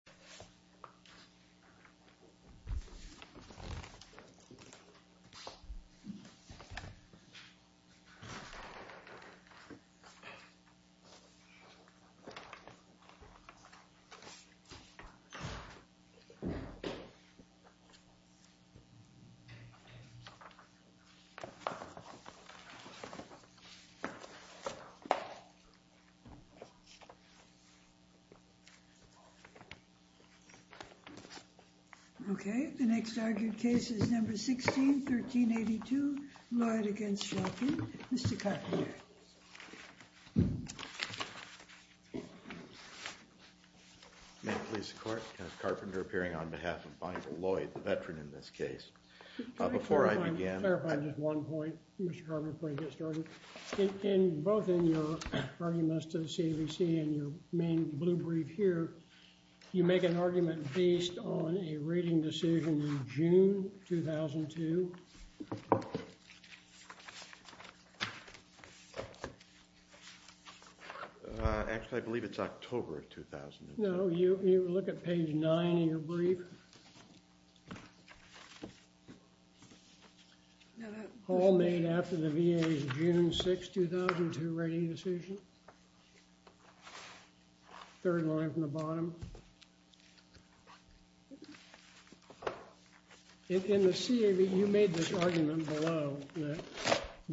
v. Shulkin v. Shulkin v. Shulkin v. Shulkin v. Shulkin v. Shulkin v. Shulkin v. Shulkin v. Shulkin v. Shulkin v. Shulkin v. Shulkin v. Shulkin v. Shulkin v. Shulkin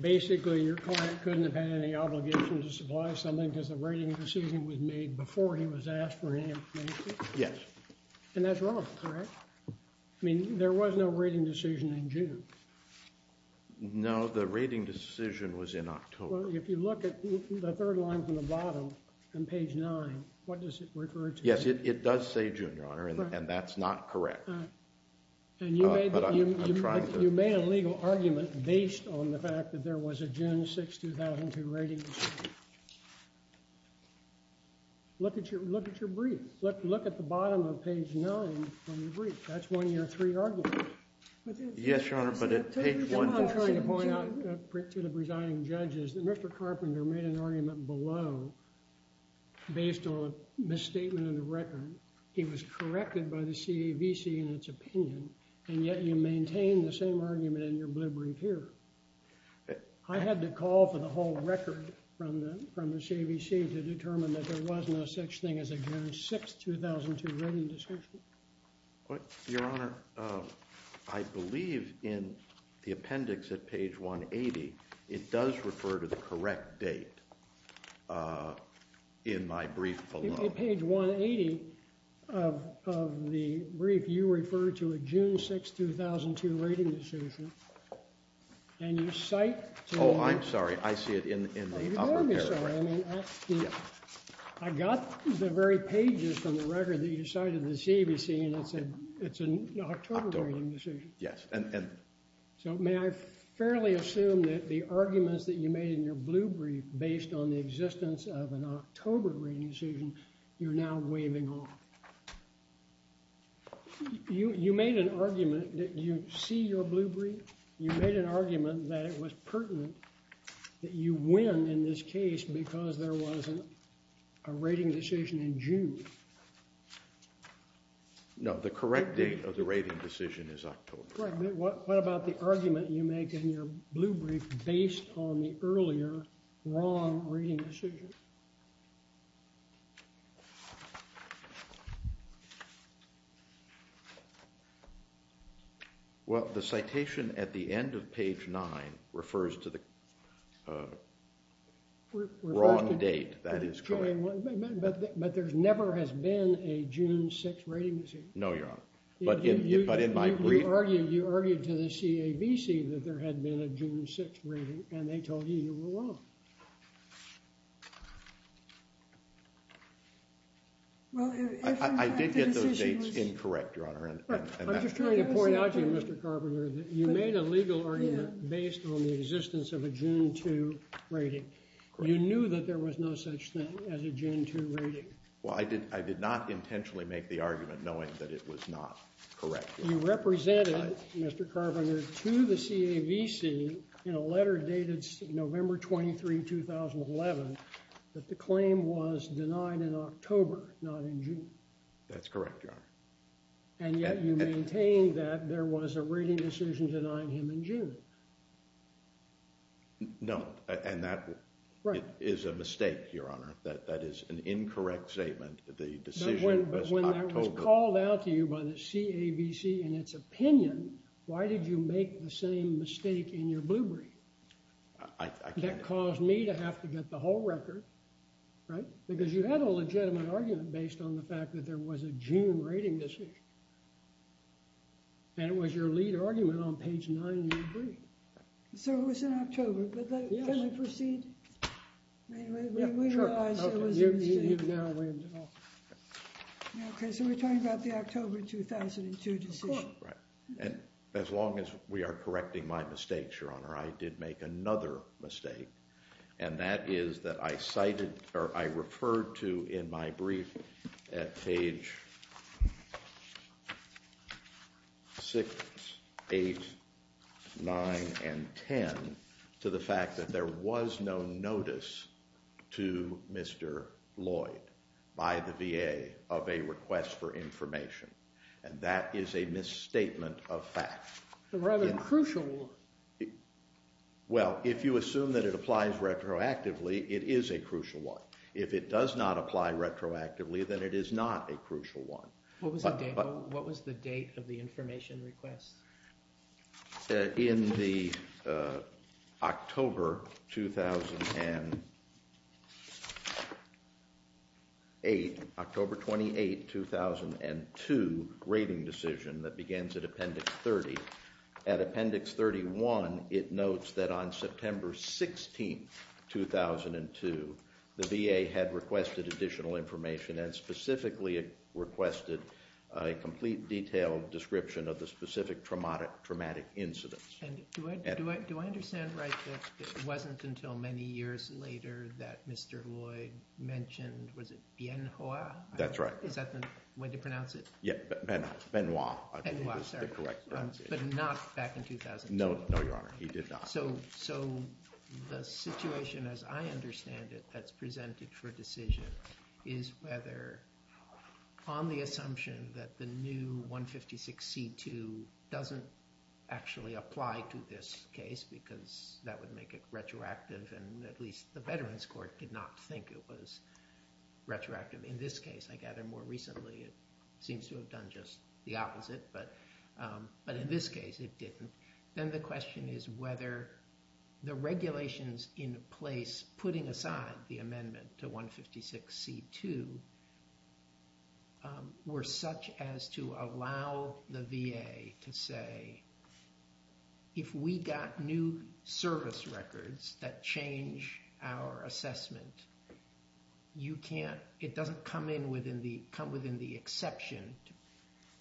basically your client couldn't have had any obligations to supply something because the rating decision was made before he was asked for any information? Yes. And that's wrong, correct? I mean, there was no rating decision in June? No, the rating decision was in October. If you look at the third line from the bottom, on page 9, what does it refer to? Yes, it does say June, Your Honor, and that's not correct. And you made a legal argument based on the fact that there was a June 6, 2002 rating decision. Look at your brief. Look at the bottom of page 9 from your brief. That's one of your three arguments. Yes, Your Honor, but at page 1, I'm trying to point out to the presiding judges that Mr. Carpenter made an argument below based on a misstatement in the record. He was a CAVC in its opinion, and yet you maintain the same argument in your brief here. I had to call for the whole record from the CAVC to determine that there was no such thing as a June 6, 2002 rating decision. Your Honor, I believe in the appendix at page 180, it does refer to the correct date in my brief below. At page 180 of the brief, you refer to a June 6, 2002 rating decision, and you cite... Oh, I'm sorry. I see it in the... Oh, I'm sorry. I mean, I got the very pages from the record that you cited in the CAVC, and it said it's an October rating decision. So may I fairly assume that the arguments that you made in your blue brief based on the existence of an October rating decision, you're now waving off? You made an argument that you see your blue brief. You made an argument that it was pertinent that you win in this case because there wasn't a rating decision in June. No, the correct date of the rating decision is October. Right, but what about the argument you make in your blue brief based on the earlier wrong rating decision? Well, the citation at the end of page 9 refers to the wrong date. That is correct. But there never has been a June 6 rating decision. No, Your Honor. But in my brief... You argued to the CAVC that there had been a June 6 rating, and they told you you were wrong. I did get those dates incorrect, Your Honor. I'm just trying to point out to you, Mr. Carpenter, that you made a legal argument based on the existence of a June 2 rating. You knew that there was no such thing as a June 2 rating. Well, I did not intentionally make the argument knowing that it was not correct. You represented, Mr. Carpenter, to the CAVC in a letter dated November 23, 2011, that the claim was denied in October, not in June. That's correct, Your Honor. And yet you maintained that there was a rating decision denying him in June. No, and that is a mistake, Your Honor. That is an incorrect statement. The decision was October. But when that was called out to you by the CAVC in its opinion, why did you make the same mistake in your blue brief? I can't... And it was your lead argument on page 9 in your brief. So it was in October, but can we proceed? Yes. We realize it was... Okay, so we're talking about the October 2002 decision. Of course. And as long as we are correcting my mistakes, Your Honor, I did make another mistake. And that is that I cited, or I referred to in my brief at page 6, 8, 9, and 10 to the fact that there was no notice to Mr. Lloyd by the VA of a request for information. And that is a misstatement of fact. A rather crucial one. Well, if you assume that it applies retroactively, it is a crucial one. If it does not apply retroactively, then it is not a crucial one. What was the date of the information request? In the October 2008, October 28, 2002 rating decision that begins at Appendix 30, at Appendix 31, it notes that on September 16, 2002, the VA had requested additional information and specifically requested a complete detailed description of the specific traumatic incidents. Do I understand right that it wasn't until many years later that Mr. Lloyd mentioned, was it Bien Hoa? That's right. Is that the way to pronounce it? Yeah, Benoit, I believe is the correct pronunciation. Benoit, sorry. But not back in 2002? No, Your Honor, he did not. So the situation as I understand it that's presented for decision is whether on the assumption that the new 156C2 doesn't actually apply to this case because that would make it retroactive and at least the Veterans Court did not think it was retroactive. In this case, I gather more recently, it seems to have done just the opposite. But in this case, it didn't. Then the question is whether the regulations in place putting aside the amendment to 156C2 were such as to allow the VA to say, if we got new service records that change our assessment, it doesn't come within the exception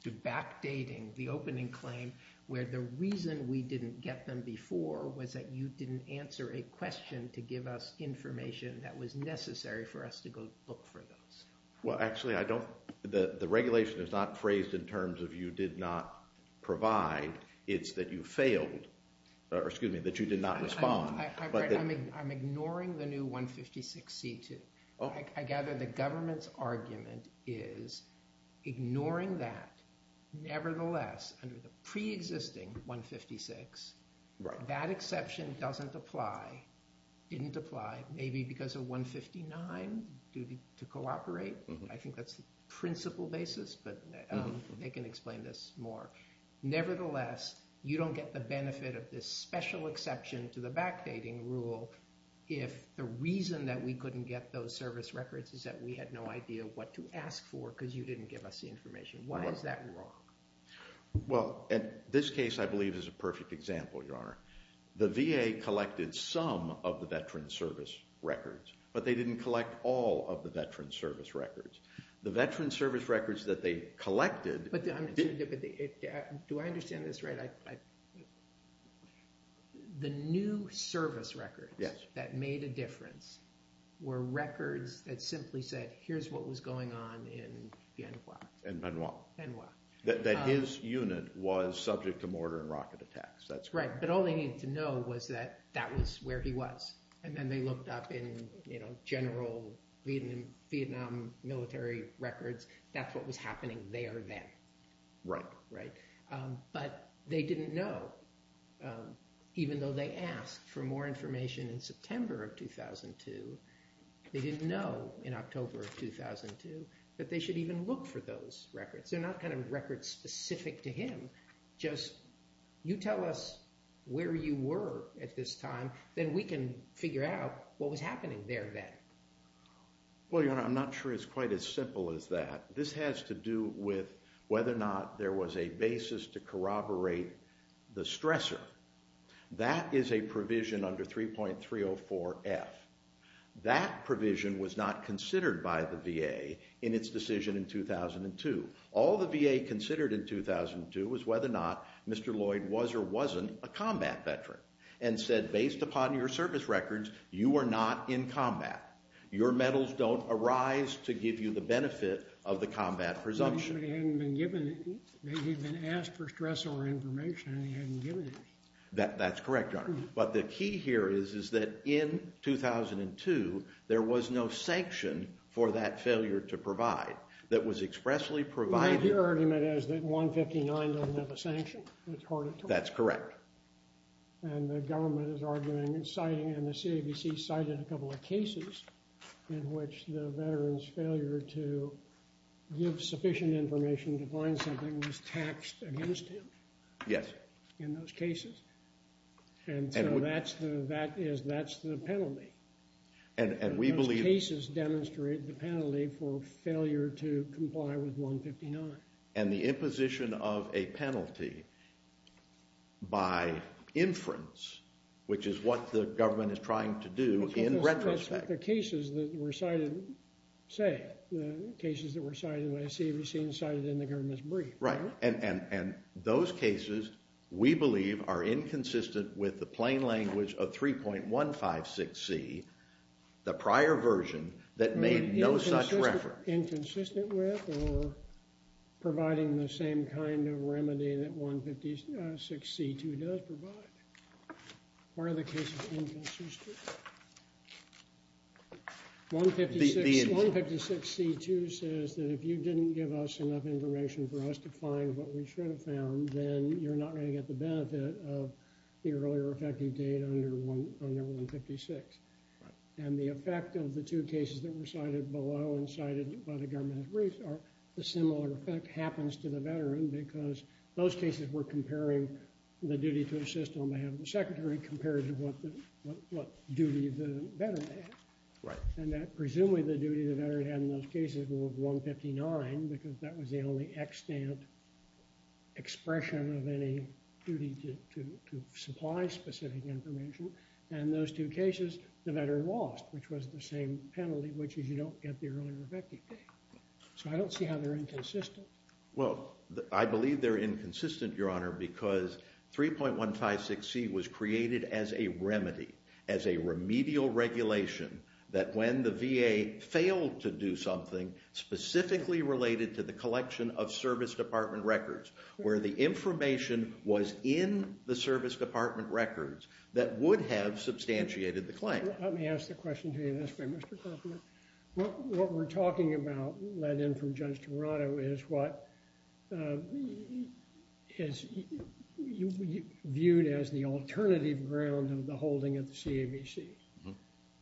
to backdating the opening claim where the reason we didn't get them before was that you didn't answer a question to give us information that was necessary for us to go look for those. Well, actually, I don't – the regulation is not phrased in terms of you did not provide. It's that you failed – or excuse me, that you did not respond. I'm ignoring the new 156C2. I gather the government's argument is ignoring that. Nevertheless, under the preexisting 156, that exception doesn't apply, didn't apply, maybe because of 159, due to cooperate. I think that's the principal basis, but they can explain this more. Nevertheless, you don't get the benefit of this special exception to the backdating rule if the reason that we couldn't get those service records is that we had no idea what to ask for because you didn't give us the information. Why is that wrong? Well, this case I believe is a perfect example, Your Honor. The VA collected some of the veteran service records, but they didn't collect all of the veteran service records. The veteran service records that they collected – Do I understand this right? The new service records that made a difference were records that simply said here's what was going on in Bien Hoa. In Bien Hoa. In Bien Hoa. That his unit was subject to mortar and rocket attacks. That's right, but all they needed to know was that that was where he was, and then they looked up in general Vietnam military records. That's what was happening there then. Right. Right. But they didn't know, even though they asked for more information in September of 2002, they didn't know in October of 2002 that they should even look for those records. They're not kind of records specific to him, just you tell us where you were at this time, then we can figure out what was happening there then. Well, Your Honor, I'm not sure it's quite as simple as that. This has to do with whether or not there was a basis to corroborate the stressor. That is a provision under 3.304F. That provision was not considered by the VA in its decision in 2002. All the VA considered in 2002 was whether or not Mr. Lloyd was or wasn't a combat veteran and said, based upon your service records, you are not in combat. Your medals don't arise to give you the benefit of the combat presumption. But he hadn't been given it. He'd been asked for stressor information and he hadn't given it. That's correct, Your Honor. But the key here is that in 2002, there was no sanction for that failure to provide that was expressly provided. Your argument is that 159 doesn't have a sanction. That's correct. And the government is arguing and the CABC cited a couple of cases in which the veteran's failure to give sufficient information to find something was taxed against him. Yes. In those cases. And so that's the penalty. And we believe— Those cases demonstrate the penalty for failure to comply with 159. And the imposition of a penalty by inference, which is what the government is trying to do in retrospect. The cases that were cited, say, the cases that were cited by the CABC and cited in the government's brief. Right. And those cases, we believe, are inconsistent with the plain language of 3.156c, the prior version that made no such reference. Inconsistent with or providing the same kind of remedy that 156c2 does provide? Why are the cases inconsistent? 156c2 says that if you didn't give us enough information for us to find what we should have found, then you're not going to get the benefit of the earlier effective date under 156. Right. And the effect of the two cases that were cited below and cited by the government briefs are a similar effect happens to the veteran because those cases were comparing the duty to assist on behalf of the secretary compared to what duty the veteran had. Right. And presumably the duty the veteran had in those cases were 159 because that was the only extant expression of any duty to supply specific information. And those two cases, the veteran lost, which was the same penalty, which is you don't get the earlier effective date. So I don't see how they're inconsistent. Well, I believe they're inconsistent, Your Honor, because 3.156c was created as a remedy, as a remedial regulation, that when the VA failed to do something specifically related to the collection of service department records, where the information was in the service department records, that would have substantiated the claim. Let me ask the question to you this way, Mr. Kaufman. What we're talking about, led in from Judge Toronto, is what is viewed as the alternative ground of the holding of the CAVC.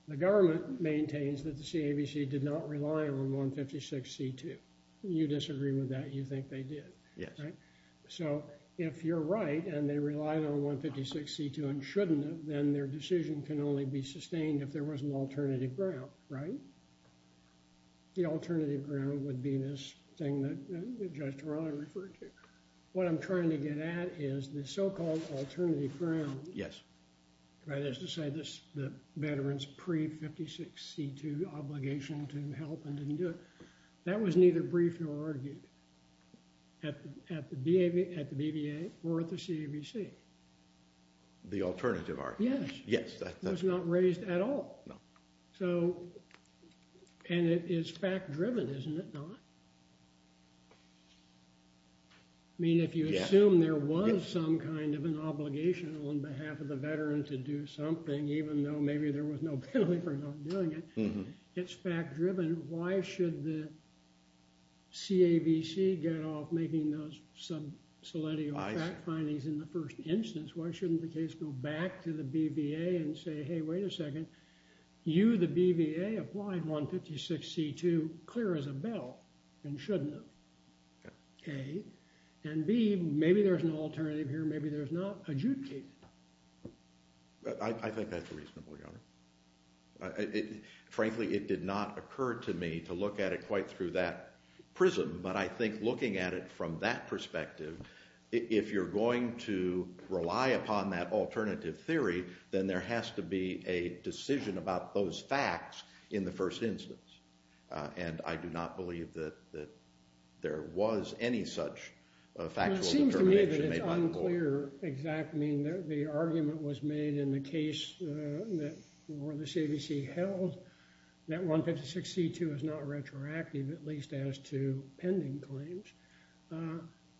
The government maintains that the CAVC did not rely on 156c2. You disagree with that. You think they did. Yes. So if you're right and they relied on 156c2 and shouldn't have, then their decision can only be sustained if there was an alternative ground, right? The alternative ground would be this thing that Judge Toronto referred to. What I'm trying to get at is the so-called alternative ground. Yes. That is to say the veteran's pre-156c2 obligation to help and didn't do it. That was neither briefed nor argued at the BVA or at the CAVC. The alternative argument. Yes. Yes. It was not raised at all. No. And it is fact-driven, isn't it not? I mean, if you assume there was some kind of an obligation on behalf of the veteran to do something, even though maybe there was no benefit of doing it, it's fact-driven. Then why should the CAVC get off making those sub-soletio fact findings in the first instance? Why shouldn't the case go back to the BVA and say, hey, wait a second. You, the BVA, applied 156c2 clear as a bell and shouldn't have, A. And B, maybe there's an alternative here. Maybe there's not. Adjudicate it. I think that's reasonable, Your Honor. Frankly, it did not occur to me to look at it quite through that prism. But I think looking at it from that perspective, if you're going to rely upon that alternative theory, then there has to be a decision about those facts in the first instance. And I do not believe that there was any such factual determination made by the board. The argument was made in the case that the CAVC held that 156c2 is not retroactive, at least as to pending claims.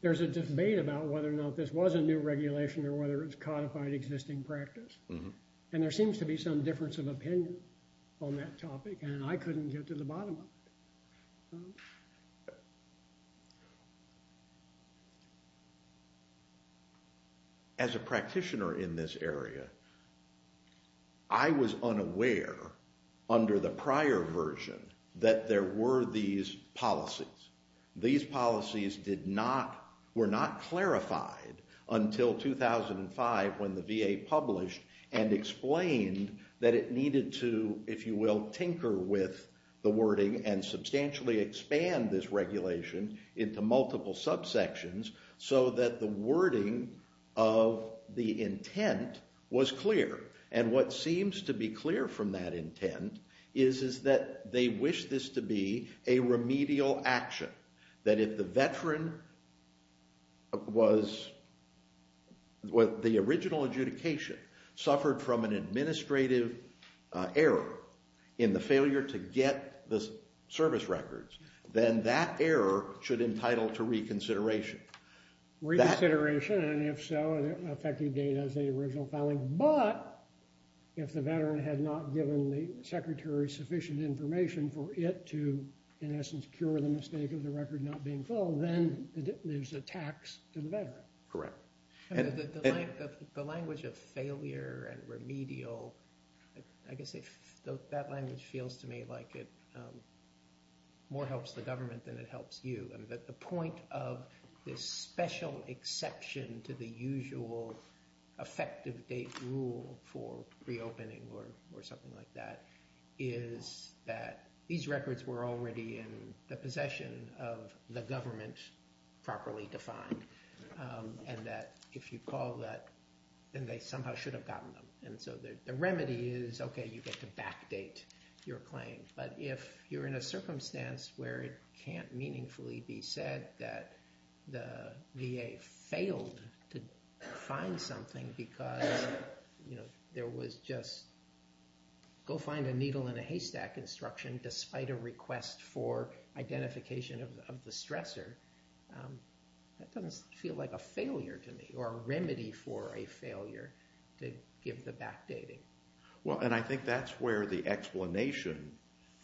There's a debate about whether or not this was a new regulation or whether it's codified existing practice. And there seems to be some difference of opinion on that topic. And I couldn't get to the bottom of it. As a practitioner in this area, I was unaware under the prior version that there were these policies. These policies were not clarified until 2005 when the VA published and explained that it needed to, if you will, tinker with the wording and substantially expand this regulation into multiple subsections so that the wording of the intent was clear. And what seems to be clear from that intent is that they wish this to be a remedial action, that if the veteran was, the original adjudication suffered from an administrative error in the failure to get the service records, then that error should entitle to reconsideration. Reconsideration, and if so, effective date as the original filing. But if the veteran had not given the secretary sufficient information for it to, in essence, cure the mistake of the record not being filled, then there's a tax to the veteran. Correct. The language of failure and remedial, I guess that language feels to me like it more helps the government than it helps you. The point of this special exception to the usual effective date rule for reopening or something like that is that these records were already in the possession of the government properly defined, and that if you call that, then they somehow should have gotten them. And so the remedy is, okay, you get to backdate your claim. But if you're in a circumstance where it can't meaningfully be said that the VA failed to find something because there was just go find a needle in a haystack instruction despite a request for identification of the stressor, that doesn't feel like a failure to me or a remedy for a failure to give the backdating. Well, and I think that's where the explanation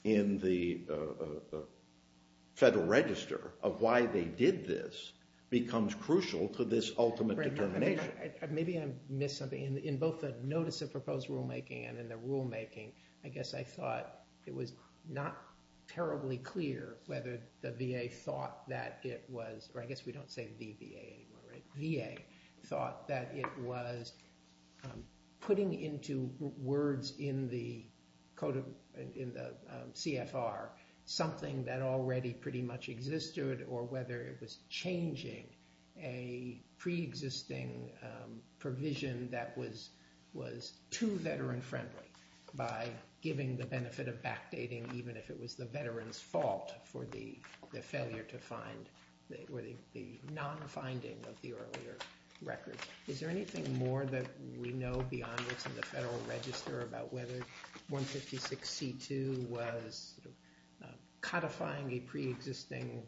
in the Federal Register of why they did this becomes crucial to this ultimate determination. Maybe I missed something. In both the notice of proposed rulemaking and in the rulemaking, I guess I thought it was not terribly clear whether the VA thought that it was, or I guess we don't say VBA anymore, right? VA thought that it was putting into words in the CFR something that already pretty much existed or whether it was changing a preexisting provision that was too veteran friendly by giving the benefit of backdating even if it was the veteran's fault for the failure to find, or the non-finding of the earlier records. Is there anything more that we know beyond this in the Federal Register about whether 156C2 was codifying a preexisting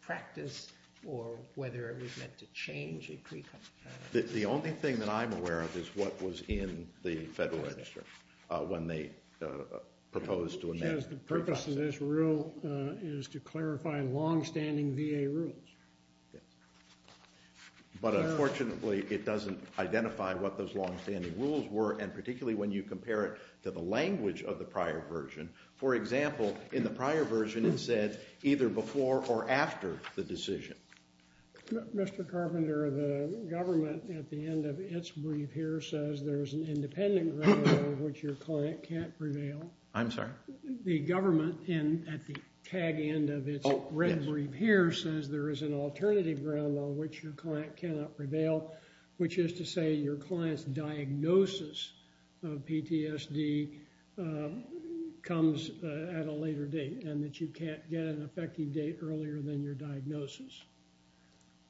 practice or whether it was meant to change a preexisting practice? The only thing that I'm aware of is what was in the Federal Register when they proposed to amend it. The purpose of this rule is to clarify longstanding VA rules. But, unfortunately, it doesn't identify what those longstanding rules were and particularly when you compare it to the language of the prior version. For example, in the prior version it said either before or after the decision. Mr. Carpenter, the government at the end of its brief here says there is an independent ground rule which your client can't prevail. I'm sorry? The government at the tag end of its red brief here says there is an alternative ground on which your client cannot prevail, which is to say your client's diagnosis of PTSD comes at a later date and that you can't get an effective date earlier than your diagnosis.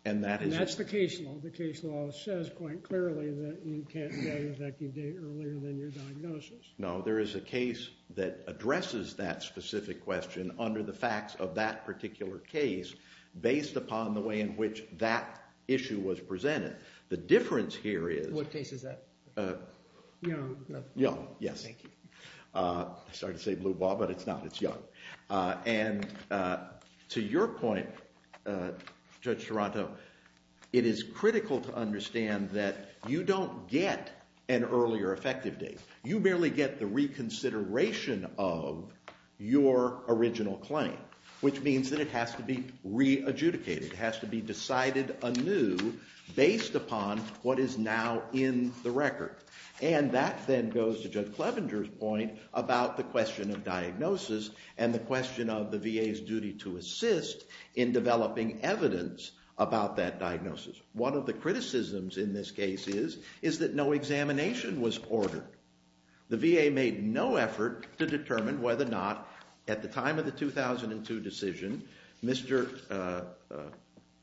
And that's the case law. The case law says quite clearly that you can't get an effective date earlier than your diagnosis. No, there is a case that addresses that specific question under the facts of that particular case based upon the way in which that issue was presented. The difference here is... What case is that? Young. Young, yes. Thank you. Sorry to say blue ball, but it's not. It's young. And to your point, Judge Toronto, it is critical to understand that you don't get an earlier effective date. You merely get the reconsideration of your original claim, which means that it has to be re-adjudicated. It has to be decided anew based upon what is now in the record. And that then goes to Judge Clevenger's point about the question of diagnosis and the question of the VA's duty to assist in developing evidence about that diagnosis. One of the criticisms in this case is that no examination was ordered. The VA made no effort to determine whether or not, at the time of the 2002 decision, Mr.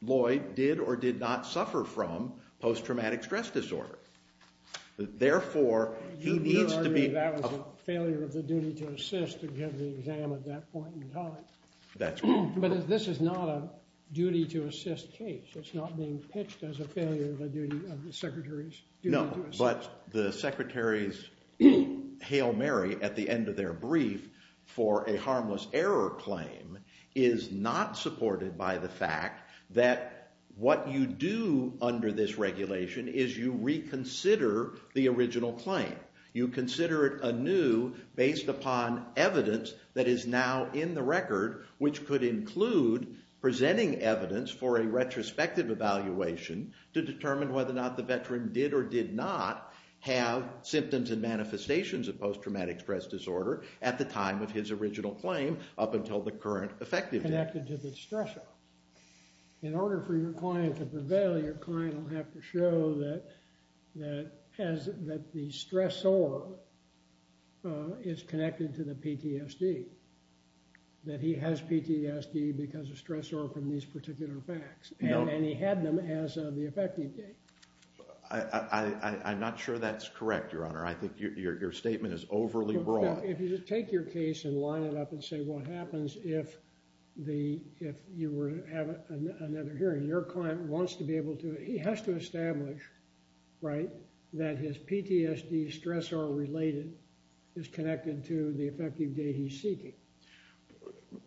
Lloyd did or did not suffer from post-traumatic stress disorder. Therefore, he needs to be... You would argue that was a failure of the duty to assist to give the exam at that point in time. That's correct. But this is not a duty to assist case. It's not being pitched as a failure of the secretary's duty to assist. No, but the secretary's hail Mary at the end of their brief for a harmless error claim is not supported by the fact that what you do under this regulation is you reconsider the original claim. You consider it anew based upon evidence that is now in the record, which could include presenting evidence for a retrospective evaluation to determine whether or not the veteran did or did not have symptoms and manifestations of post-traumatic stress disorder at the time of his original claim up until the current effective date. Connected to the stressor. In order for your client to prevail, your client will have to show that the stressor is connected to the PTSD, that he has PTSD because of stressor from these particular facts, and he had them as of the effective date. I'm not sure that's correct, Your Honor. I think your statement is overly broad. If you take your case and line it up and say what happens if you were to have another hearing, your client wants to be able to... He has to establish, right, that his PTSD stressor related is connected to the effective date he's seeking.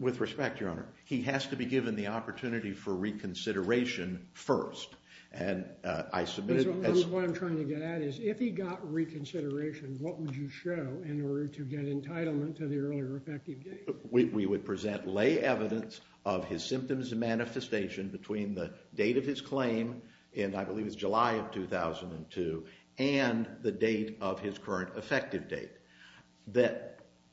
With respect, Your Honor, he has to be given the opportunity for reconsideration first. What I'm trying to get at is if he got reconsideration, what would you show in order to get entitlement to the earlier effective date? We would present lay evidence of his symptoms and manifestation between the date of his claim, and I believe it's July of 2002, and the date of his current effective date. The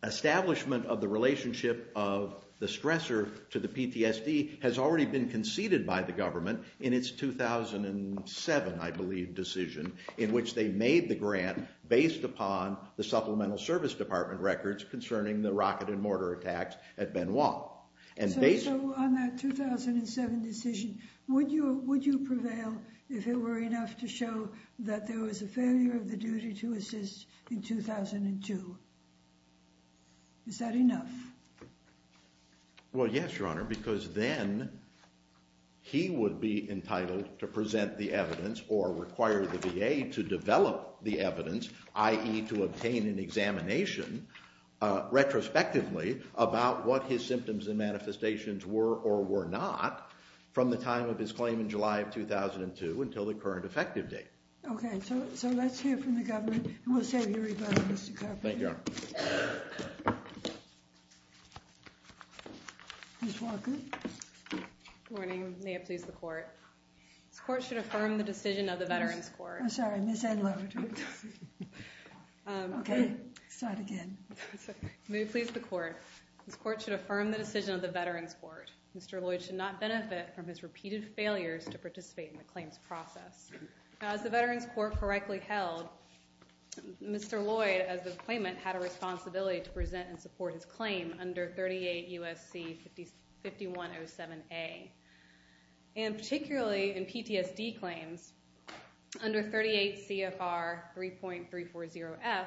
establishment of the relationship of the stressor to the PTSD has already been conceded by the government in its 2007, I believe, decision, in which they made the grant based upon the Supplemental Service Department records concerning the rocket and mortar attacks at Benoit. So on that 2007 decision, would you prevail if it were enough to show that there was a failure of the duty to assist in 2002? Is that enough? Well, yes, Your Honor, because then he would be entitled to present the evidence or require the VA to develop the evidence, i.e. to obtain an examination retrospectively about what his symptoms and manifestations were or were not from the time of his claim in July of 2002 until the current effective date. Okay, so let's hear from the government, and we'll save you a rebuttal, Mr. Carpenter. Thank you, Your Honor. Ms. Walker. Good morning. May it please the Court. This Court should affirm the decision of the Veterans Court. I'm sorry, Ms. Edlow. Okay, start again. May it please the Court. This Court should affirm the decision of the Veterans Court. Mr. Lloyd should not benefit from his repeated failures to participate in the claims process. As the Veterans Court correctly held, Mr. Lloyd, as of the appointment, had a responsibility to present and support his claim under 38 U.S.C. 5107A. And particularly in PTSD claims under 38 CFR 3.340F,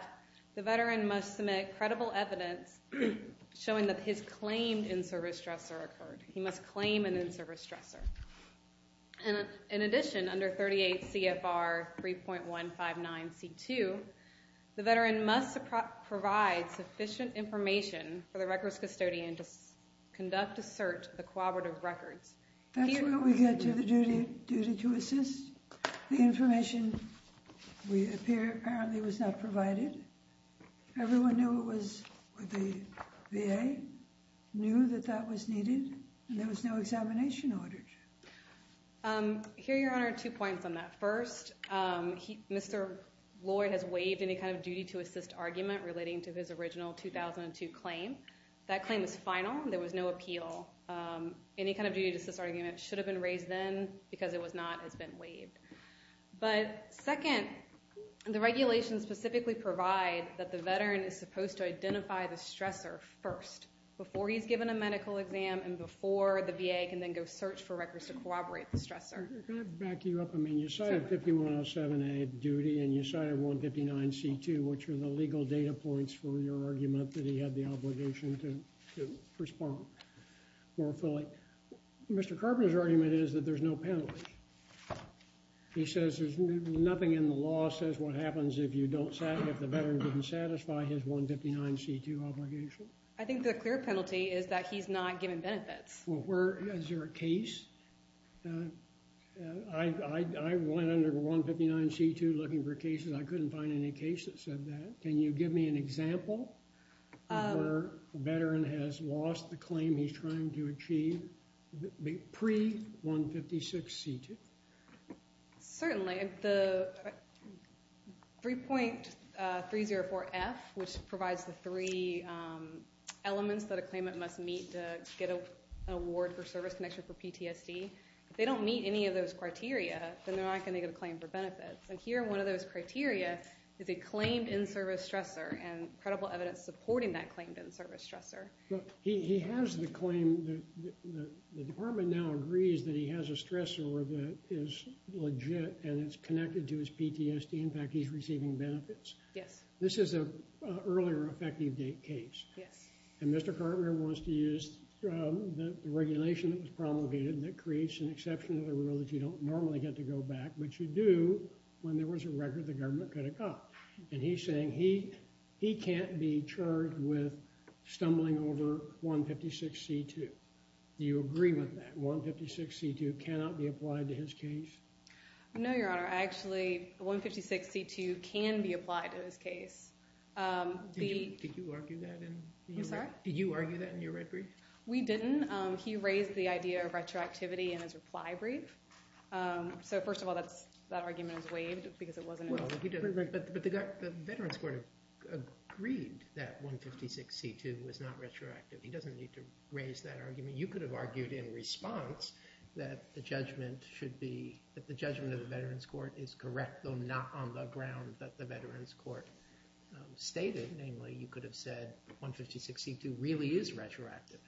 the Veteran must submit credible evidence showing that his claimed in-service stressor occurred. He must claim an in-service stressor. In addition, under 38 CFR 3.159C2, the Veteran must provide sufficient information for the records custodian to conduct a search of the cooperative records. That's where we get to the duty to assist. The information apparently was not provided. Everyone knew it was the VA, knew that that was needed, and there was no examination ordered. Here, Your Honor, two points on that. First, Mr. Lloyd has waived any kind of duty to assist argument relating to his original 2002 claim. That claim is final. There was no appeal. Any kind of duty to assist argument should have been raised then, because it was not, has been waived. But second, the regulations specifically provide that the Veteran is supposed to identify the stressor first, before he's given a medical exam and before the VA can then go search for records to corroborate the stressor. Can I back you up? I mean, you cited 5107A, duty, and you cited 159C2, which are the legal data points for your argument that he had the obligation to respond more fully. Mr. Carpenter's argument is that there's no penalty. He says there's nothing in the law that says what happens if the Veteran didn't satisfy his 159C2 obligation. I think the clear penalty is that he's not given benefits. Well, is there a case? I went under 159C2 looking for cases. I couldn't find any cases that said that. Can you give me an example of where a Veteran has lost the claim he's trying to achieve pre-156C2? Certainly. The 3.304F, which provides the three elements that a claimant must meet to get an award for service connection for PTSD, if they don't meet any of those criteria, then they're not going to get a claim for benefits. And here, one of those criteria is a claimed in-service stressor and credible evidence supporting that claimed in-service stressor. He has the claim. The department now agrees that he has a stressor that is legit and it's connected to his PTSD. In fact, he's receiving benefits. Yes. This is an earlier effective date case. Yes. And Mr. Carpenter wants to use the regulation that was promulgated that creates an exception to the rule that you don't normally get to go back, which you do when there was a record the government could have got. And he's saying he can't be charged with stumbling over 156C2. Do you agree with that? 156C2 cannot be applied to his case? No, Your Honor. Actually, 156C2 can be applied to his case. Did you argue that in your brief? We didn't. He raised the idea of retroactivity in his reply brief. So, first of all, that argument is waived because it wasn't in his brief. But the Veterans Court agreed that 156C2 was not retroactive. He doesn't need to raise that argument. You could have argued in response that the judgment of the Veterans Court is correct, though not on the ground that the Veterans Court stated. Namely, you could have said 156C2 really is retroactive.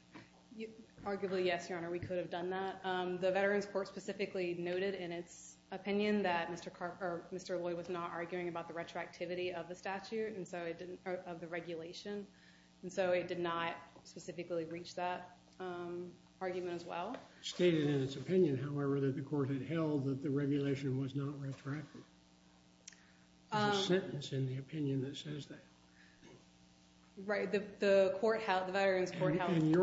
Arguably, yes, Your Honor. We could have done that. The Veterans Court specifically noted in its opinion that Mr. Lloyd was not arguing about the retroactivity of the statute of the regulation, and so it did not specifically reach that argument as well. It stated in its opinion, however, that the court had held that the regulation was not retroactive. There's a sentence in the opinion that says that. Right. The Veterans Court held that. And so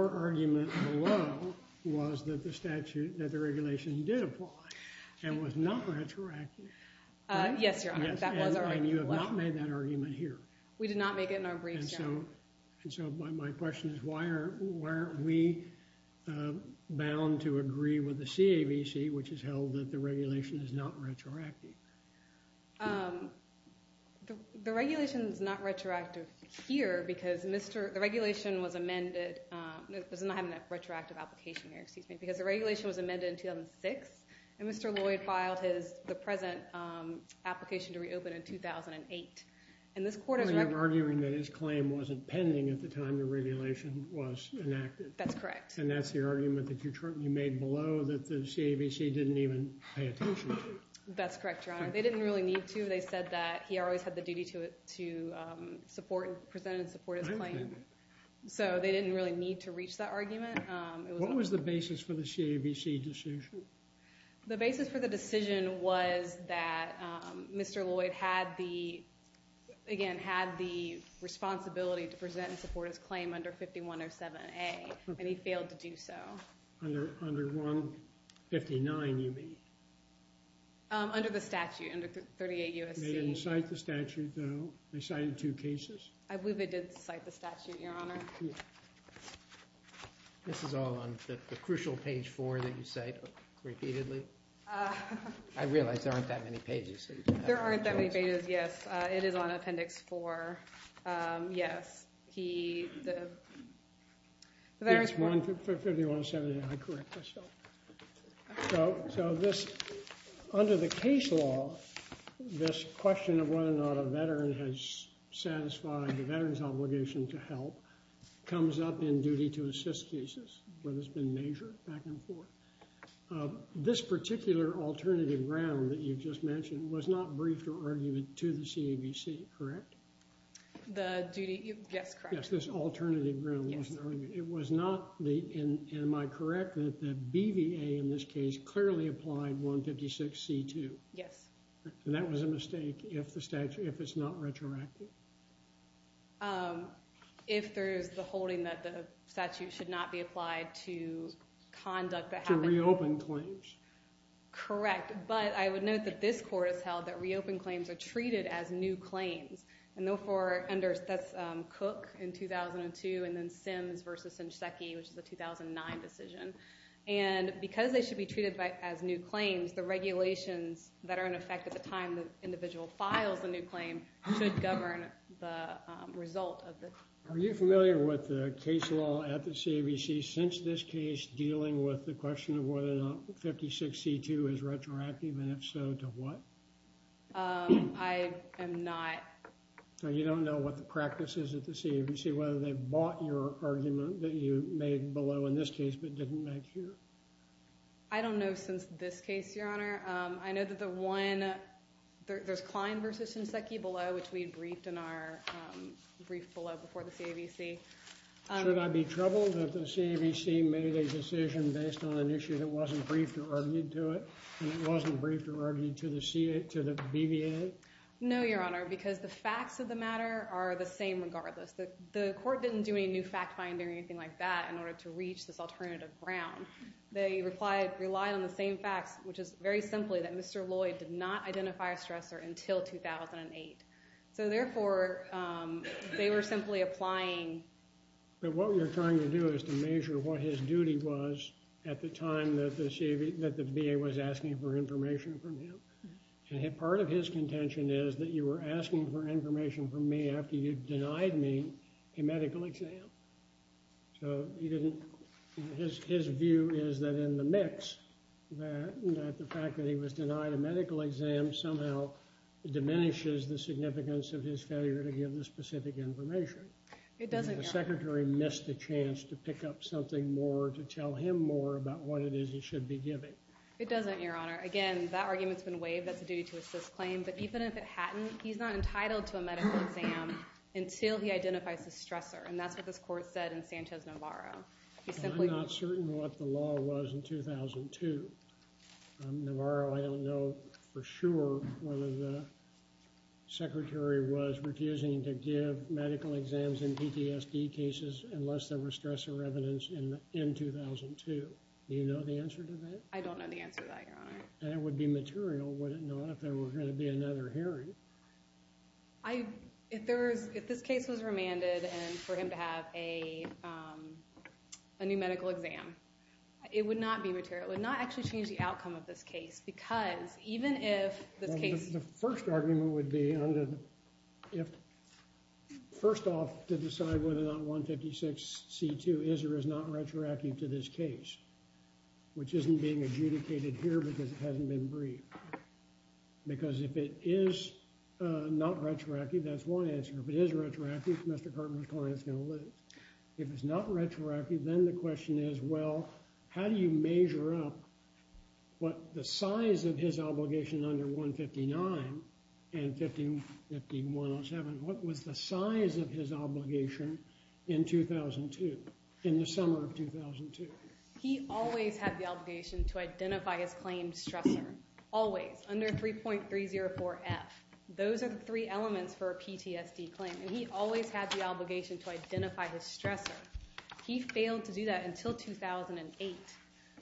my question is, why aren't we bound to agree with the CAVC, which has held that the regulation is not retroactive? The regulation is not retroactive here because the regulation was amended. It does not have a retroactive application here, excuse me. Because the regulation was amended in 2006, and Mr. Lloyd filed the present application to reopen in 2008. And this court is retroactive. You're arguing that his claim wasn't pending at the time the regulation was enacted. That's correct. And that's the argument that you made below that the CAVC didn't even pay attention to. That's correct, Your Honor. They didn't really need to. They said that he always had the duty to present and support his claim. So they didn't really need to reach that argument. What was the basis for the CAVC decision? The basis for the decision was that Mr. Lloyd had the responsibility to present and support his claim under 5107A, and he failed to do so. Under 159, you mean? Under the statute, under 38 U.S.C. They didn't cite the statute, though? They cited two cases? I believe they did cite the statute, Your Honor. This is all on the crucial page four that you cite repeatedly. I realize there aren't that many pages. There aren't that many pages, yes. It is on appendix four. Yes. It's 5107A, I correct myself. So under the case law, this question of whether or not a veteran has satisfied the veteran's obligation to help comes up in duty to assist cases, where there's been measure back and forth. This particular alternative ground that you just mentioned was not briefed or argued to the CAVC, correct? The duty, yes, correct. Yes, this alternative ground wasn't argued. It was not the, and am I correct that the BVA in this case clearly applied 156C2? Yes. And that was a mistake if the statute, if it's not retroactive? If there's the holding that the statute should not be applied to conduct the happenings. To reopen claims. Correct. But I would note that this court has held that reopened claims are treated as new claims. And therefore, under, that's Cook in 2002, and then Sims versus Shinseki, which is a 2009 decision. And because they should be treated as new claims, the regulations that are in effect at the time the individual files a new claim should govern the result of the. Are you familiar with the case law at the CAVC since this case dealing with the question of whether or not 156C2 is retroactive, and if so, to what? I am not. So you don't know what the practice is at the CAVC, whether they bought your argument that you made below in this case, but didn't make here? I don't know since this case, Your Honor. I know that the one there's Klein versus Sinseki below, which we briefed in our brief below before the CAVC. Should I be troubled that the CAVC made a decision based on an issue that wasn't briefed or argued to it? And it wasn't briefed or argued to the BVA? No, Your Honor, because the facts of the matter are the same regardless. The court didn't do any new fact finding or anything like that in order to reach this alternative ground. They relied on the same facts, which is very simply that Mr. Lloyd did not identify a stressor until 2008. So therefore, they were simply applying. But what you're trying to do is to measure what his duty was at the time that the VA was asking for information from him. And part of his contention is that you were asking for information from me after you denied me a medical exam. So his view is that in the mix, that the fact that he was denied a medical exam somehow diminishes the significance of his failure to give the specific information. It doesn't, Your Honor. The secretary missed the chance to pick up something more to tell him more about what it is he should be giving. It doesn't, Your Honor. Again, that argument's been waived. That's a duty to assist claim. But even if it hadn't, he's not entitled to a medical exam until he identifies a stressor. And that's what this court said in Sanchez-Navarro. I'm not certain what the law was in 2002. Navarro, I don't know for sure whether the secretary was refusing to give medical exams in PTSD cases unless there were stressor evidence in 2002. Do you know the answer to that? I don't know the answer to that, Your Honor. And it would be material, would it not, if there were going to be another hearing? If this case was remanded and for him to have a new medical exam, it would not be material. It would not actually change the outcome of this case because even if this case— The first argument would be, first off, to decide whether or not 156C2 is or is not retroactive to this case, which isn't being adjudicated here because it hasn't been briefed. Because if it is not retroactive, that's one answer. If it is retroactive, Mr. Cartman's client is going to lose. If it's not retroactive, then the question is, well, how do you measure up the size of his obligation under 159 and 15107? What was the size of his obligation in 2002, in the summer of 2002? He always had the obligation to identify his claimed stressor, always, under 3.304F. Those are the three elements for a PTSD claim, and he always had the obligation to identify his stressor. He failed to do that until 2008.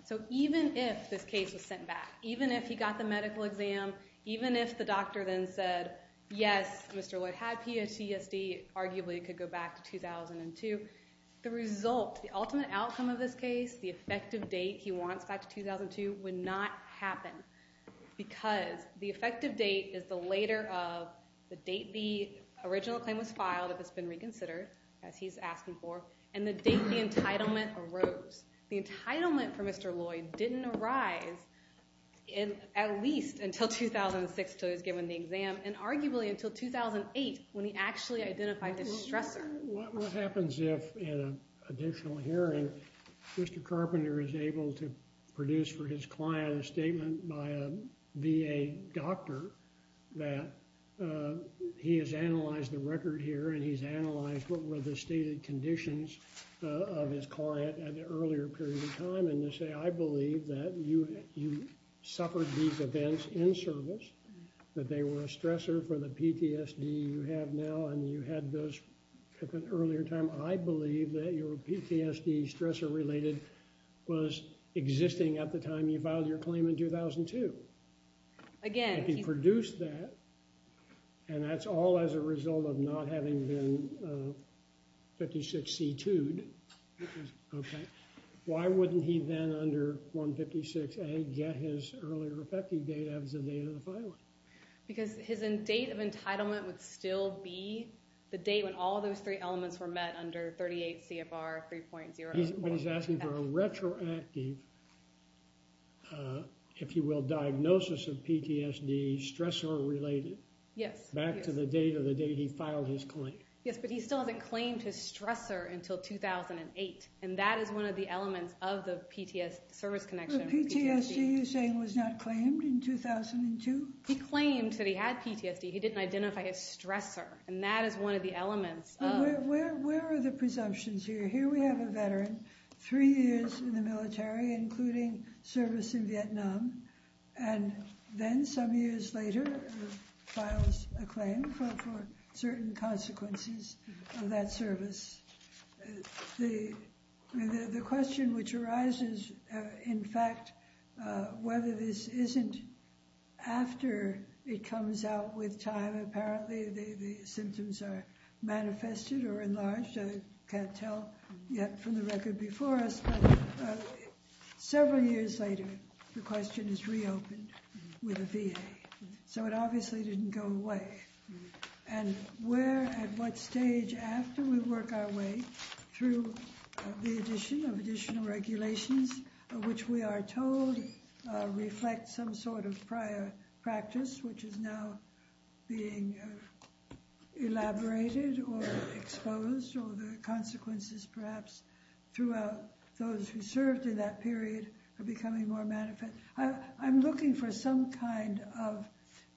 So even if this case was sent back, even if he got the medical exam, even if the doctor then said, yes, Mr. Lloyd had PTSD, arguably it could go back to 2002, the result, the ultimate outcome of this case, the effective date he wants back to 2002, would not happen. Because the effective date is the later of the date the original claim was filed, if it's been reconsidered, as he's asking for, and the date the entitlement arose. The entitlement for Mr. Lloyd didn't arise, at least until 2006, until he was given the exam, and arguably until 2008, when he actually identified the stressor. What happens if, in an additional hearing, Mr. Carpenter is able to produce for his client a statement by a VA doctor, that he has analyzed the record here, and he's analyzed what were the stated conditions of his client at an earlier period of time, and to say, I believe that you suffered these events in service, that they were a stressor for the PTSD you have now, and you had those at an earlier time. I believe that your PTSD stressor-related was existing at the time you filed your claim in 2002. If he produced that, and that's all as a result of not having been 56C2'd, why wouldn't he then, under 156A, get his earlier effective date as the date of the filing? Because his date of entitlement would still be the date when all those three elements were met under 38 CFR 3.0. But he's asking for a retroactive, if you will, diagnosis of PTSD, stressor-related, back to the date of the date he filed his claim. Yes, but he still hasn't claimed his stressor until 2008, and that is one of the elements of the PTSD service connection. But PTSD, you're saying, was not claimed in 2002? He claimed that he had PTSD. He didn't identify his stressor, and that is one of the elements of... Where are the presumptions here? Here we have a veteran, three years in the military, including service in Vietnam, and then some years later, files a claim for certain consequences of that service. The question which arises, in fact, whether this isn't after it comes out with time, apparently the symptoms are manifested or enlarged, I can't tell yet from the record before us, but several years later, the question is reopened with a VA. So it obviously didn't go away. And where, at what stage, after we work our way through the addition of additional regulations, which we are told reflect some sort of prior practice, which is now being elaborated or exposed, or the consequences perhaps throughout those who served in that period are becoming more manifest. I'm looking for some kind of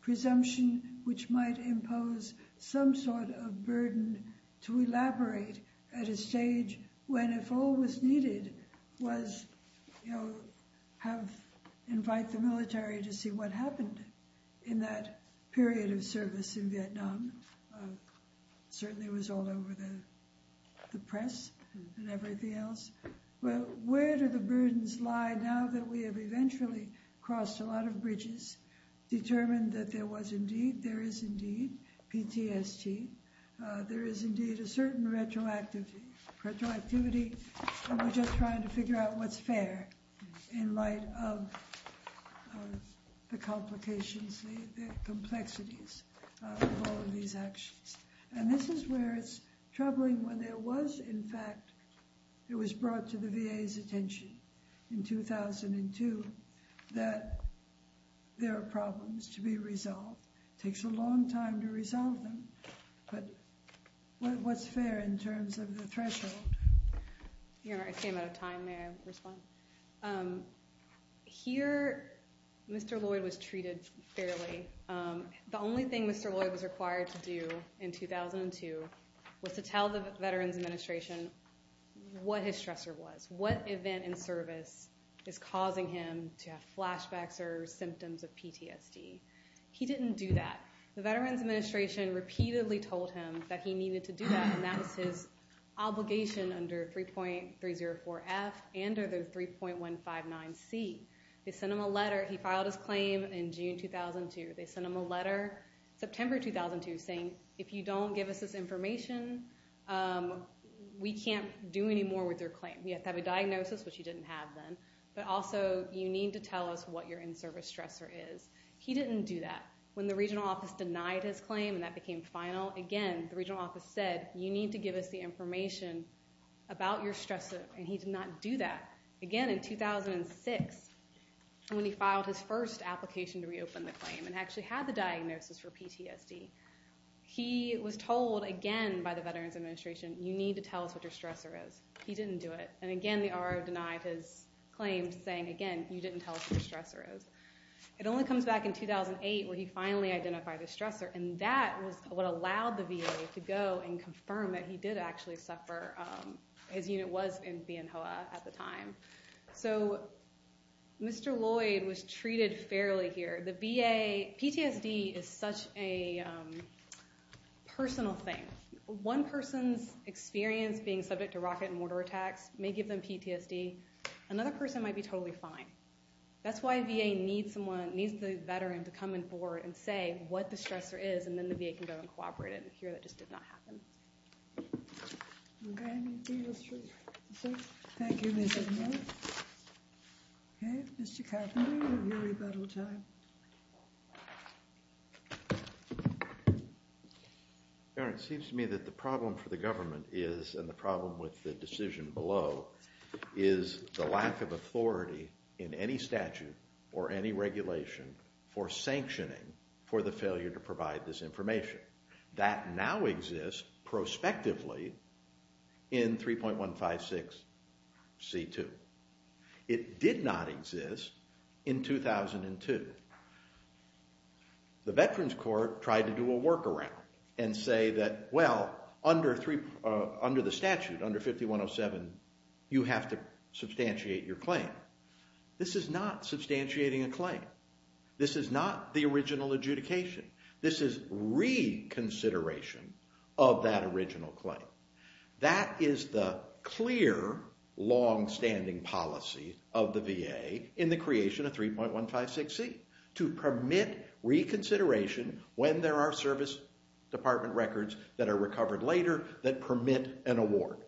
presumption which might impose some sort of burden to elaborate at a stage when, if all was needed, was to invite the military to see what happened in that period of service in Vietnam. Certainly it was all over the press and everything else. Well, where do the burdens lie now that we have eventually crossed a lot of bridges, determined that there was indeed, there is indeed PTSD, there is indeed a certain retroactivity, and we're just trying to figure out what's fair in light of the complications, the complexities of all of these. And this is where it's troubling when there was, in fact, it was brought to the VA's attention in 2002 that there are problems to be resolved. It takes a long time to resolve them. But what's fair in terms of the threshold? I came out of time. May I respond? Here, Mr. Lloyd was treated fairly. The only thing Mr. Lloyd was required to do in 2002 was to tell the Veterans Administration what his stressor was, what event in service is causing him to have flashbacks or symptoms of PTSD. He didn't do that. The Veterans Administration repeatedly told him that he needed to do that, and that was his obligation under 3.304F and under 3.159C. They sent him a letter. He filed his claim in June 2002. They sent him a letter in September 2002 saying, if you don't give us this information, we can't do any more with your claim. You have to have a diagnosis, which you didn't have then, but also you need to tell us what your in-service stressor is. He didn't do that. When the regional office denied his claim and that became final, again, the regional office said, you need to give us the information about your stressor, and he did not do that. Again, in 2006, when he filed his first application to reopen the claim and actually had the diagnosis for PTSD, he was told again by the Veterans Administration, you need to tell us what your stressor is. He didn't do it, and again, the RO denied his claim saying, again, you didn't tell us what your stressor is. It only comes back in 2008 when he finally identified his stressor, and that was what allowed the VA to go and confirm that he did actually suffer. His unit was in Bien Hoa at the time. So Mr. Lloyd was treated fairly here. The VA, PTSD is such a personal thing. One person's experience being subject to rocket and mortar attacks may give them PTSD. Another person might be totally fine. That's why VA needs the veteran to come on board and say what the stressor is, and then the VA can go and cooperate. Here, that just did not happen. Okay. Thank you, Ms. Edmonds. Okay, Mr. Carpenter, you have your rebuttal time. The Veterans Court tried to do a workaround and say that, well, under the statute, under 5107, you have to substantiate your claim. This is not substantiating a claim. This is not the original adjudication. This is reconsideration of that original claim. That is the clear longstanding policy of the VA in the creation of 3.156C, to permit reconsideration when there are service department records that are recovered later that permit an award.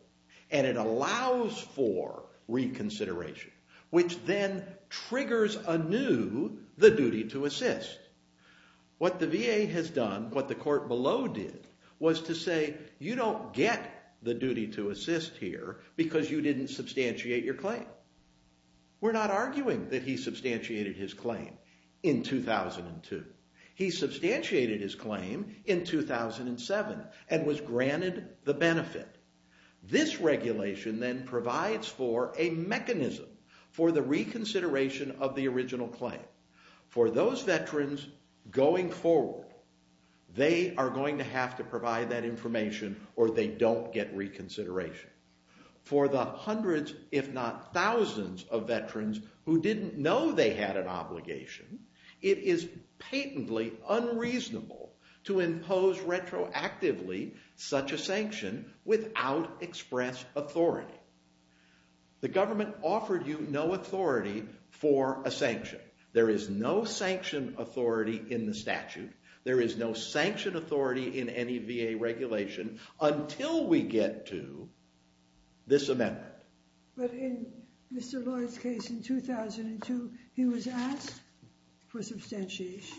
And it allows for reconsideration, which then triggers anew the duty to assist. What the VA has done, what the court below did, was to say you don't get the duty to assist here because you didn't substantiate your claim. We're not arguing that he substantiated his claim in 2002. He substantiated his claim in 2007 and was granted the benefit. This regulation then provides for a mechanism for the reconsideration of the original claim. For those veterans going forward, they are going to have to provide that information or they don't get reconsideration. For the hundreds, if not thousands, of veterans who didn't know they had an obligation, it is patently unreasonable to impose retroactively such a sanction without express authority. The government offered you no authority for a sanction. There is no sanction authority in the statute. There is no sanction authority in any VA regulation until we get to this amendment. But in Mr. Lloyd's case in 2002, he was asked for substantiation.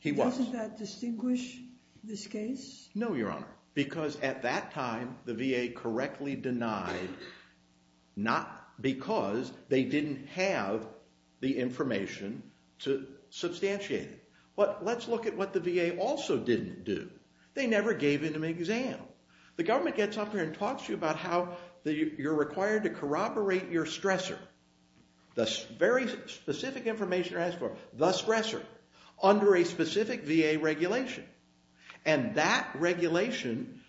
He was. Doesn't that distinguish this case? No, Your Honor, because at that time the VA correctly denied not because they didn't have the information to substantiate it. But let's look at what the VA also didn't do. They never gave him an exam. The government gets up there and talks to you about how you're required to corroborate your stressor, the very specific information you're asked for, the stressor, under a specific VA regulation. And that regulation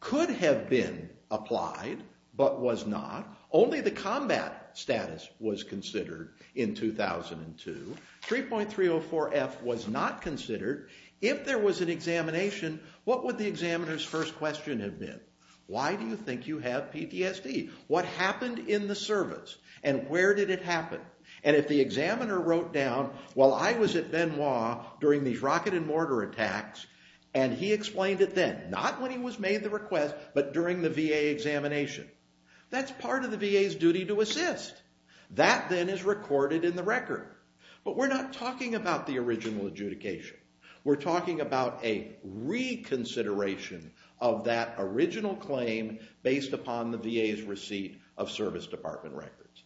could have been applied but was not. Only the combat status was considered in 2002. 3.304F was not considered. If there was an examination, what would the examiner's first question have been? Why do you think you have PTSD? What happened in the service? And where did it happen? And if the examiner wrote down, well, I was at Benoit during these rocket and mortar attacks, and he explained it then, not when he was made the request, but during the VA examination, that's part of the VA's duty to assist. That then is recorded in the record. But we're not talking about the original adjudication. We're talking about a reconsideration of that original claim based upon the VA's receipt of service department records.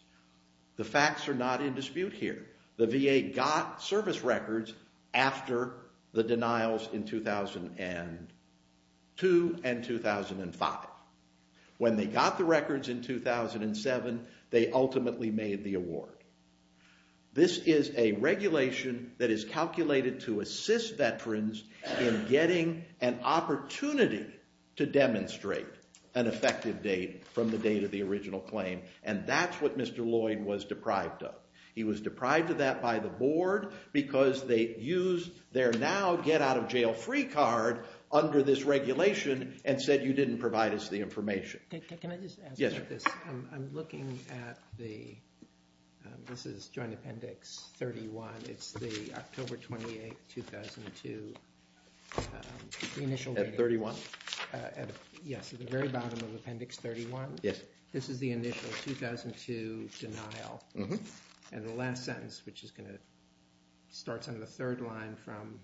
The facts are not in dispute here. The VA got service records after the denials in 2002 and 2005. When they got the records in 2007, they ultimately made the award. This is a regulation that is calculated to assist veterans in getting an opportunity to demonstrate an effective date from the date of the original claim. And that's what Mr. Lloyd was deprived of. He was deprived of that by the board because they used their now get-out-of-jail-free card under this regulation and said you didn't provide us the information. Can I just add something to this? I'm looking at the, this is Joint Appendix 31. It's the October 28, 2002 initial reading. At 31? Yes, at the very bottom of Appendix 31. This is the initial 2002 denial. And the last sentence, which starts on the third line from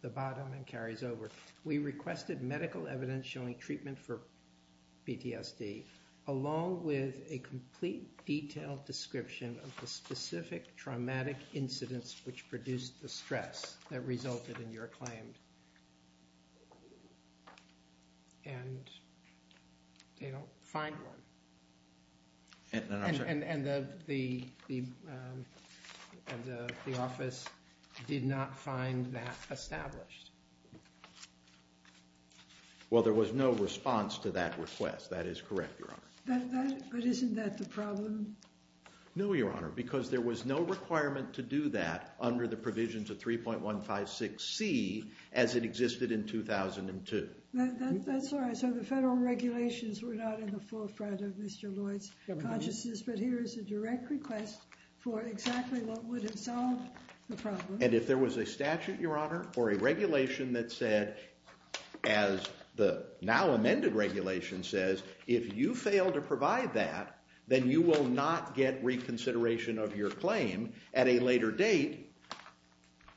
the bottom and carries over. We requested medical evidence showing treatment for PTSD along with a complete detailed description of the specific traumatic incidents which produced the stress that resulted in your claim. And they don't find one. I'm sorry? And the office did not find that established. Well, there was no response to that request. That is correct, Your Honor. But isn't that the problem? No, Your Honor, because there was no requirement to do that under the provisions of 3.156C as it existed in 2002. That's all right. So the federal regulations were not in the forefront of Mr. Lloyd's consciousness, but here is a direct request for exactly what would have solved the problem. And if there was a statute, Your Honor, or a regulation that said, as the now amended regulation says, if you fail to provide that, then you will not get reconsideration of your claim at a later date,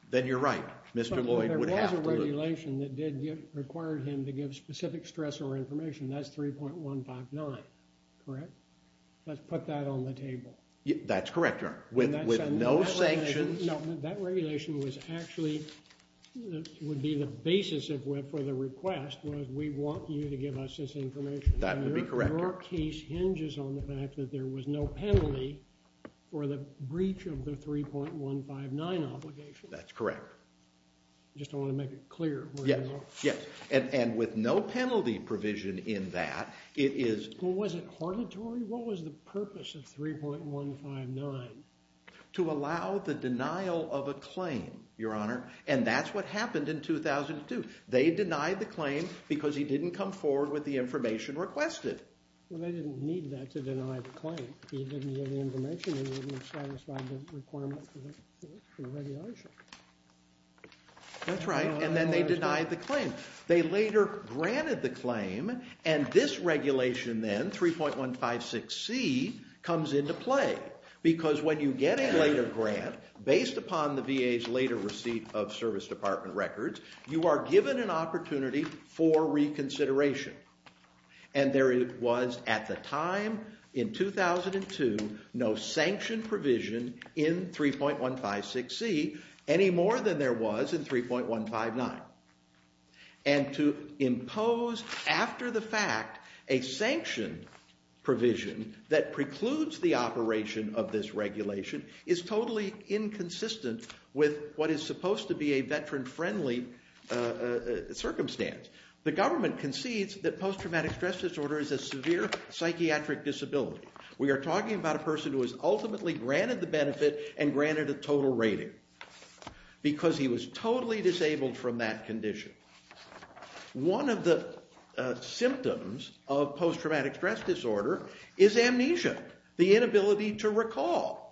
then you're right. Mr. Lloyd would have to look. But there was a regulation that did require him to give specific stressor information. That's 3.159, correct? Let's put that on the table. That's correct, Your Honor. With no sanctions. No, that regulation was actually, would be the basis for the request, was we want you to give us this information. That would be correct, Your Honor. And your case hinges on the fact that there was no penalty for the breach of the 3.159 obligation. That's correct. I just don't want to make it clear. Yes, yes. And with no penalty provision in that, it is... Well, was it harlatory? What was the purpose of 3.159? To allow the denial of a claim, Your Honor. And that's what happened in 2002. They denied the claim because he didn't come forward with the information requested. Well, they didn't need that to deny the claim. If he didn't get the information, he wouldn't have satisfied the requirement for the regulation. That's right. And then they denied the claim. They later granted the claim, and this regulation then, 3.156c, comes into play. Because when you get a later grant, based upon the VA's later receipt of service department records, you are given an opportunity for reconsideration. And there was, at the time, in 2002, no sanction provision in 3.156c any more than there was in 3.159. And to impose, after the fact, a sanction provision that precludes the operation of this regulation is totally inconsistent with what is supposed to be a veteran-friendly circumstance. The government concedes that post-traumatic stress disorder is a severe psychiatric disability. We are talking about a person who was ultimately granted the benefit and granted a total rating because he was totally disabled from that condition. One of the symptoms of post-traumatic stress disorder is amnesia, the inability to recall.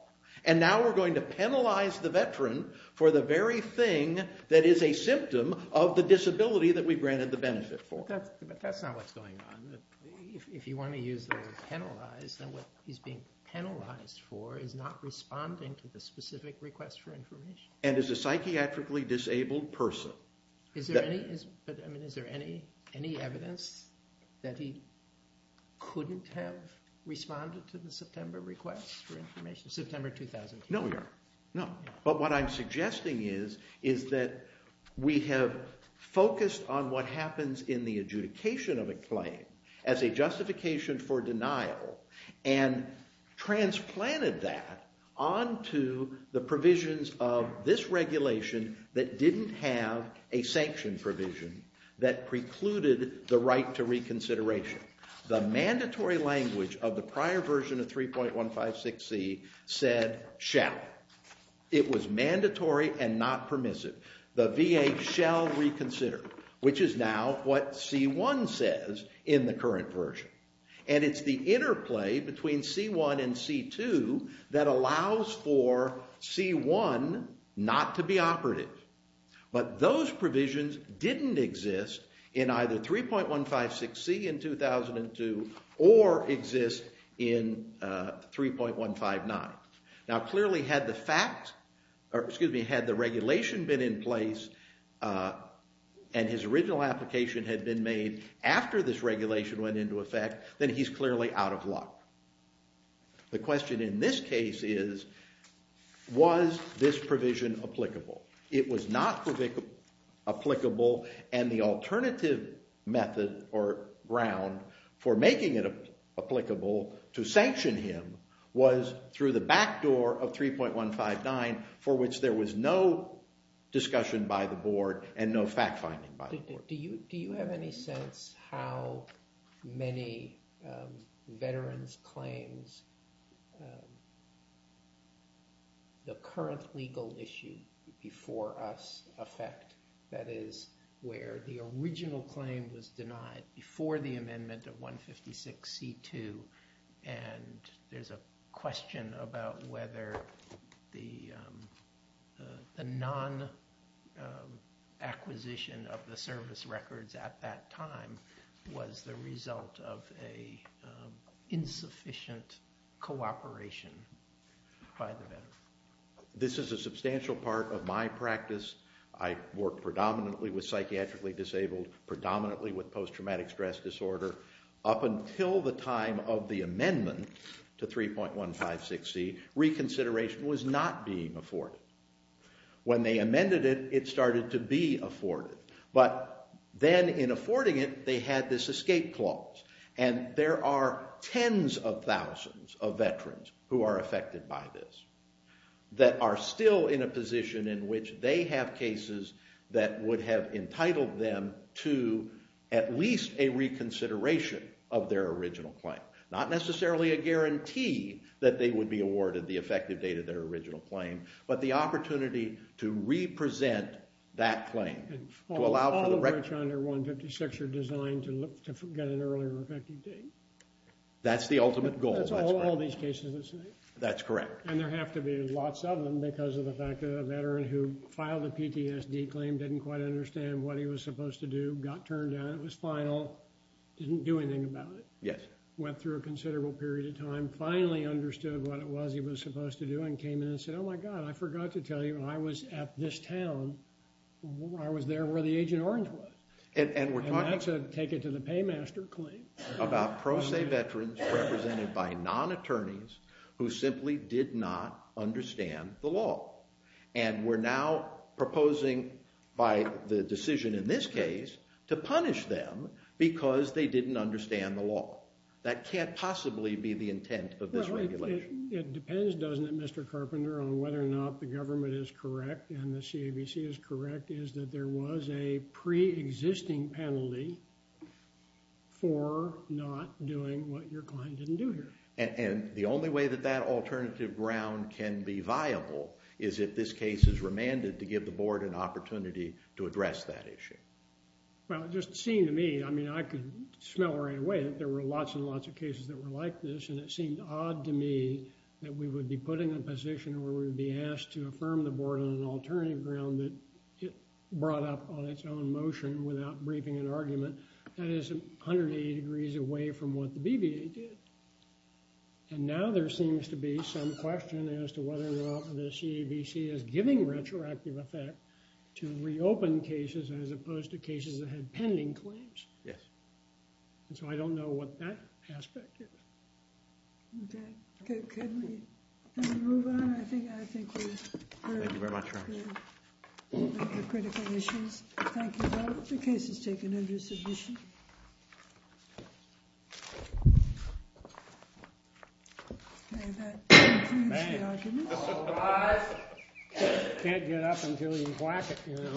And now we're going to penalize the veteran for the very thing that is a symptom of the disability that we granted the benefit for. But that's not what's going on. If you want to use the word penalize, then what he's being penalized for is not responding to the specific request for information. And is a psychiatrically disabled person. Is there any evidence that he couldn't have responded to the September request for information, September 2002? No, we are not. But what I'm suggesting is that we have focused on what happens in the adjudication of a claim as a justification for denial and transplanted that onto the provisions of this regulation that didn't have a sanction provision that precluded the right to reconsideration. The mandatory language of the prior version of 3.156c said shall. It was mandatory and not permissive. The VA shall reconsider, which is now what C1 says in the current version. And it's the interplay between C1 and C2 that allows for C1 not to be operative. But those provisions didn't exist in either 3.156c in 2002 or exist in 3.159. Now clearly had the fact, or excuse me, had the regulation been in place and his original application had been made after this regulation went into effect, then he's clearly out of luck. The question in this case is, was this provision applicable? It was not applicable, and the alternative method or ground for making it applicable to sanction him was through the back door of 3.159, for which there was no discussion by the board and no fact finding by the board. Do you have any sense how many veterans' claims the current legal issue before us affect? That is, where the original claim was denied before the amendment of 3.156c2, and there's a question about whether the non-acquisition of the service records at that time was the result of an insufficient cooperation by the veteran. This is a substantial part of my practice. I work predominantly with psychiatrically disabled, predominantly with post-traumatic stress disorder. Up until the time of the amendment to 3.156c, reconsideration was not being afforded. When they amended it, it started to be afforded, but then in affording it, they had this escape clause, and there are tens of thousands of veterans who are affected by this that are still in a position in which they have cases that would have entitled them to at least a reconsideration of their original claim. Not necessarily a guarantee that they would be awarded the effective date of their original claim, but the opportunity to represent that claim. All of which under 3.156c are designed to get an earlier effective date. That's the ultimate goal. That's all these cases that say. That's correct. And there have to be lots of them because of the fact that a veteran who filed a PTSD claim didn't quite understand what he was supposed to do. Got turned down. It was final. Didn't do anything about it. Yes. Went through a considerable period of time. Finally understood what it was he was supposed to do and came in and said, oh my god, I forgot to tell you. When I was at this town, I was there where the Agent Orange was. And that's a take it to the paymaster claim. About pro se veterans represented by non-attorneys who simply did not understand the law. And we're now proposing by the decision in this case to punish them because they didn't understand the law. That can't possibly be the intent of this regulation. It depends, doesn't it, Mr. Carpenter, on whether or not the government is correct and the CABC is correct is that there was a pre-existing penalty for not doing what your client didn't do here. And the only way that that alternative ground can be viable is if this case is remanded to give the board an opportunity to address that issue. Well, it just seemed to me, I mean, I could smell right away that there were lots and lots of cases that were like this. And it seemed odd to me that we would be put in a position where we would be asked to affirm the board on an alternative ground that it brought up on its own motion without briefing an argument. That is 180 degrees away from what the BVA did. And now there seems to be some question as to whether or not the CABC is giving retroactive effect to reopen cases as opposed to cases that had pending claims. Yes. And so I don't know what that aspect is. Okay. Can we move on? I think we've heard the critical issues. Thank you both. The case is taken under submission. Okay, that concludes the argument. All rise. Can't get up until you whack it, you know.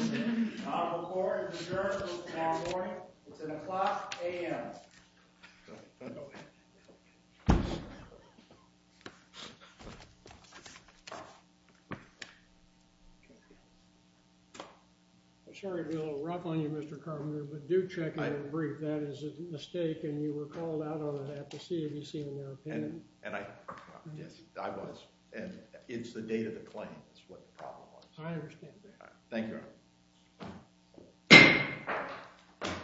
On record, adjourned until tomorrow morning. It's at o'clock a.m. I'm sorry to be a little rough on you, Mr. Carpenter, but do check in and brief. That is a mistake, and you were called out on that. The CABC, in their opinion. And I was. And it's the date of the claim is what the problem was. I understand that. Thank you.